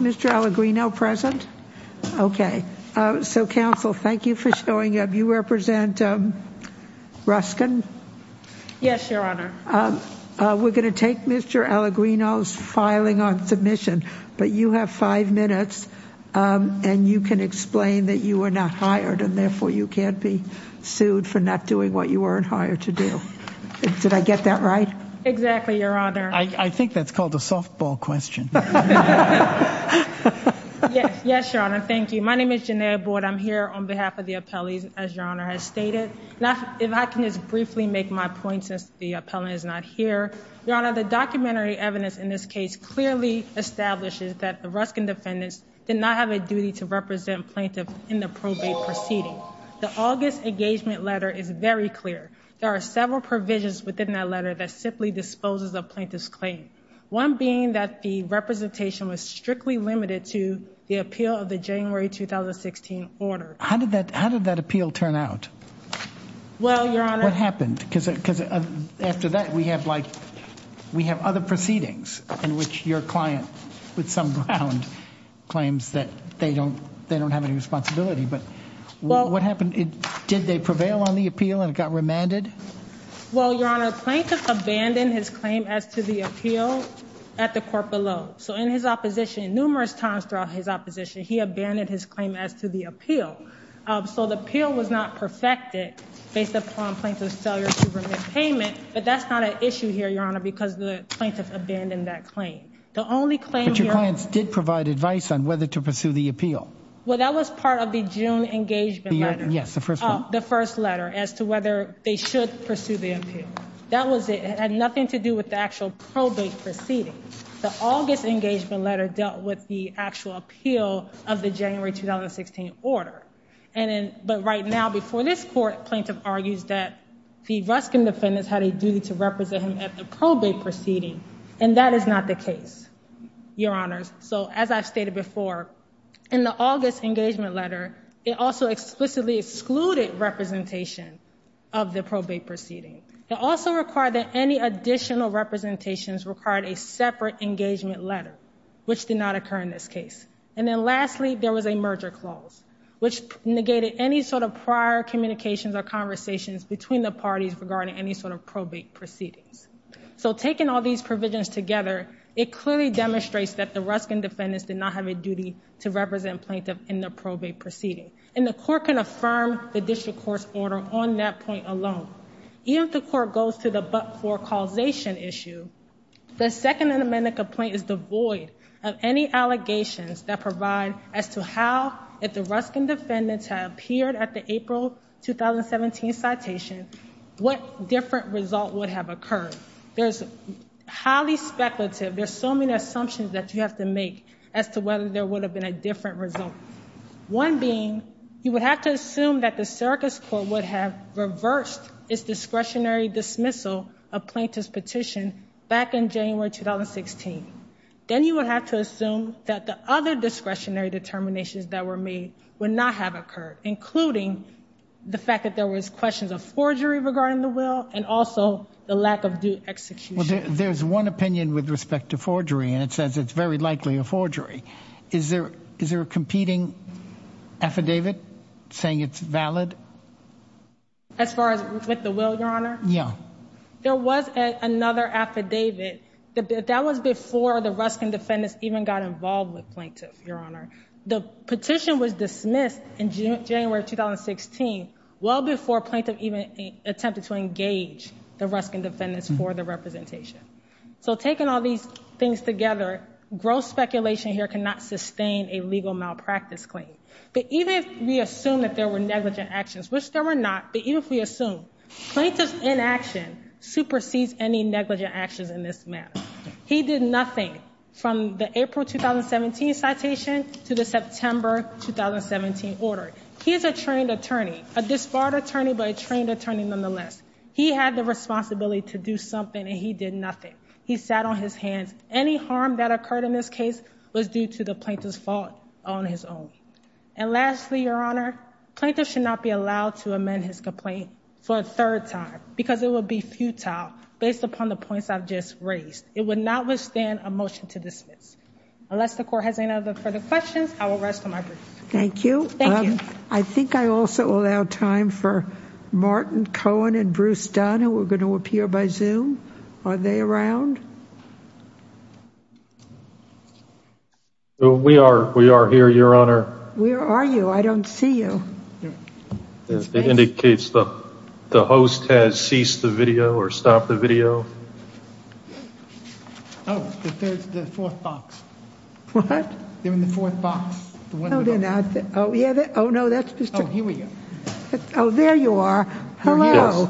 Is Mr. Allegrino present? Okay. So, Council, thank you for showing up. You represent Ruskin? Yes, Your Honor. We're going to take Mr. Allegrino's filing on submission, but you have five minutes, and you can explain that you were not hired and therefore you can't be sued for not doing what you were hired to do. Did I get that right? Exactly, Your Honor. I think that's called a softball question. Yes, Your Honor. Thank you. My name is Jenea Boyd. I'm here on behalf of the appellees, as Your Honor has stated. If I can just briefly make my point since the appellant is not here. Your Honor, the documentary evidence in this case clearly establishes that the Ruskin defendants did not have a duty to represent plaintiff in the probate proceeding. The August engagement letter is very clear. There are several provisions within that letter that simply disposes of plaintiff's claim. One being that the representation was strictly limited to the appeal of the January 2016 order. How did that appeal turn out? Well, Your Honor. What happened? Because after that, we have other proceedings in which your client with some grounds claims that they don't have any responsibility, but what happened? Did they Your Honor, plaintiff abandoned his claim as to the appeal at the court below. So in his opposition, numerous times throughout his opposition, he abandoned his claim as to the appeal. So the appeal was not perfected based upon plaintiff's failure to remit payment. But that's not an issue here, Your Honor, because the plaintiff abandoned that claim. The only claim that your clients did provide advice on whether to pursue the appeal. Well, that was part of the June engagement letter. Yes, the first the first letter as to whether they should pursue the appeal. That was it. It had nothing to do with the actual probate proceeding. The August engagement letter dealt with the actual appeal of the January 2016 order. And but right now, before this court, plaintiff argues that the Ruskin defendants had a duty to represent him at the probate proceeding. And that is not the case, Your Honor. So as I've stated before, in the August engagement letter, it also explicitly excluded probate representation of the probate proceeding. It also required that any additional representations required a separate engagement letter, which did not occur in this case. And then lastly, there was a merger clause, which negated any sort of prior communications or conversations between the parties regarding any sort of probate proceedings. So taking all these provisions together, it clearly demonstrates that the Ruskin defendants did not have a duty to represent the judicial court's order on that point alone. Even if the court goes to the but-for causation issue, the Second Amendment complaint is devoid of any allegations that provide as to how, if the Ruskin defendants had appeared at the April 2017 citation, what different result would have occurred. There's highly speculative, there's so many assumptions that you have to make as to whether there would have been a different result. One being, you would have to assume that the Syracuse court would have reversed its discretionary dismissal of plaintiff's petition back in January 2016. Then you would have to assume that the other discretionary determinations that were made would not have occurred, including the fact that there was questions of forgery regarding the will and also the lack of due execution. There's one opinion with respect to forgery, and it says it's very likely a forgery. Is there a competing affidavit saying it's valid? As far as with the will, Your Honor? Yeah. There was another affidavit. That was before the Ruskin defendants even got involved with plaintiff, Your Honor. The petition was dismissed in January 2016, well before plaintiff even attempted to engage the Ruskin defendants for the representation. So taking all these things together, gross speculation here cannot sustain a legal malpractice claim. But even if we assume that there were negligent actions, which there were not, but even if we assume, plaintiff's inaction supersedes any negligent actions in this matter. He did nothing from the April 2017 citation to the September 2017 order. He is a trained attorney, a disbarred attorney but a trained attorney nonetheless. He had the responsibility to do something and he did nothing. He sat on his hands. Any harm that occurred in this case was due to the plaintiff's fault on his own. And lastly, Your Honor, plaintiff should not be allowed to amend his complaint for a third time because it would be futile based upon the points I've just raised. It would not withstand a motion to dismiss. Unless the court has any other further questions, I will rest with my brief. Thank you. Thank you. I think I also allow time for Martin Cohen and Bruce Dunn who are going to appear by Zoom. Are they around? We are. We are here, Your Honor. Where are you? I don't see you. It indicates the host has ceased the video or stopped the video. Oh, there's the fourth box. What? They're in Oh, there you are. Hello.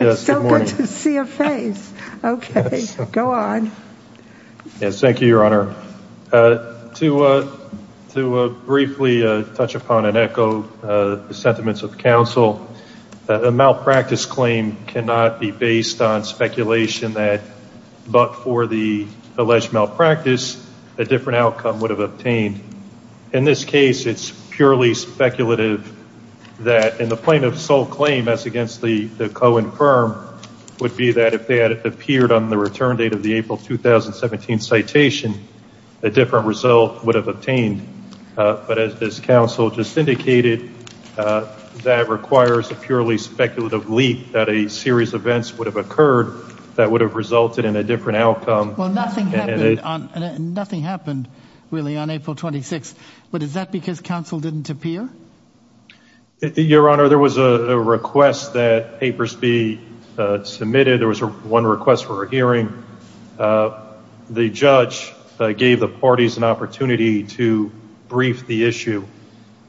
It's so good to see a face. Okay. Go on. Yes. Thank you, Your Honor. To briefly touch upon and echo the sentiments of the counsel, a malpractice claim cannot be based on speculation that but for the alleged malpractice, a different outcome would have obtained. In this case, it's purely speculative that in the plaintiff's sole claim as against the Cohen firm would be that if they had appeared on the return date of the April 2017 citation, a different result would have obtained. But as this counsel just indicated, that requires a purely speculative leak that a series of events would have occurred that would have resulted in a different outcome. Nothing happened really on April 26. But is that because counsel didn't appear? Your Honor, there was a request that papers be submitted. There was one request for a hearing. The judge gave the parties an opportunity to brief the issue.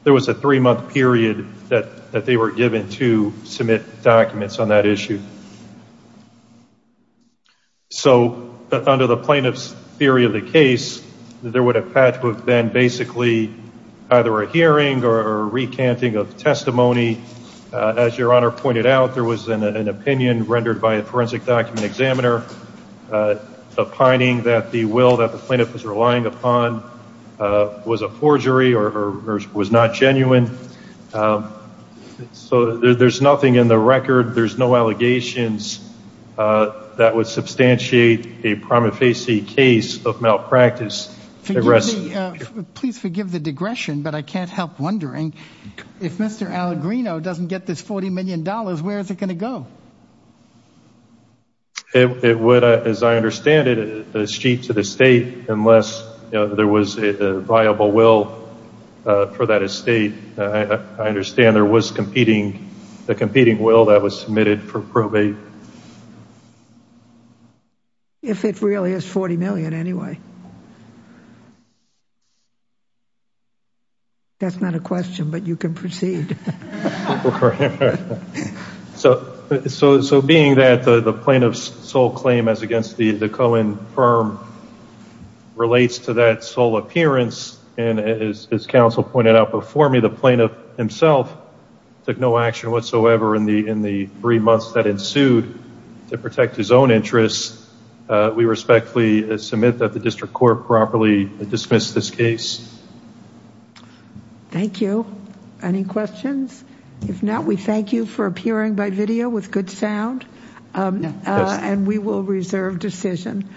There was a three month period that they were given to submit documents on that basis. So under the plaintiff's theory of the case, there would have had to have been basically either a hearing or a recanting of testimony. As Your Honor pointed out, there was an opinion rendered by a forensic document examiner opining that the will that the plaintiff was relying upon was a forgery or was not genuine. So there's nothing in the record. There's no allegations that would substantiate a prima facie case of malpractice. Please forgive the digression, but I can't help wondering, if Mr. Allegrino doesn't get this $40 million, where is it going to go? It would, as I understand it, cheat to the state unless there was a viable will for that estate. I understand there was a competing will that was submitted for probate. If it really is $40 million anyway. That's not a question, but you can proceed. So being that the plaintiff's sole claim as against the Cohen firm relates to that sole appearance, and as counsel pointed out before me, the plaintiff himself took no action whatsoever in the three months that ensued to protect his own interests. We respectfully submit that the district court properly dismissed this case. Thank you. Any questions? If not, we thank you for appearing by video with good sound. And we will reserve decision.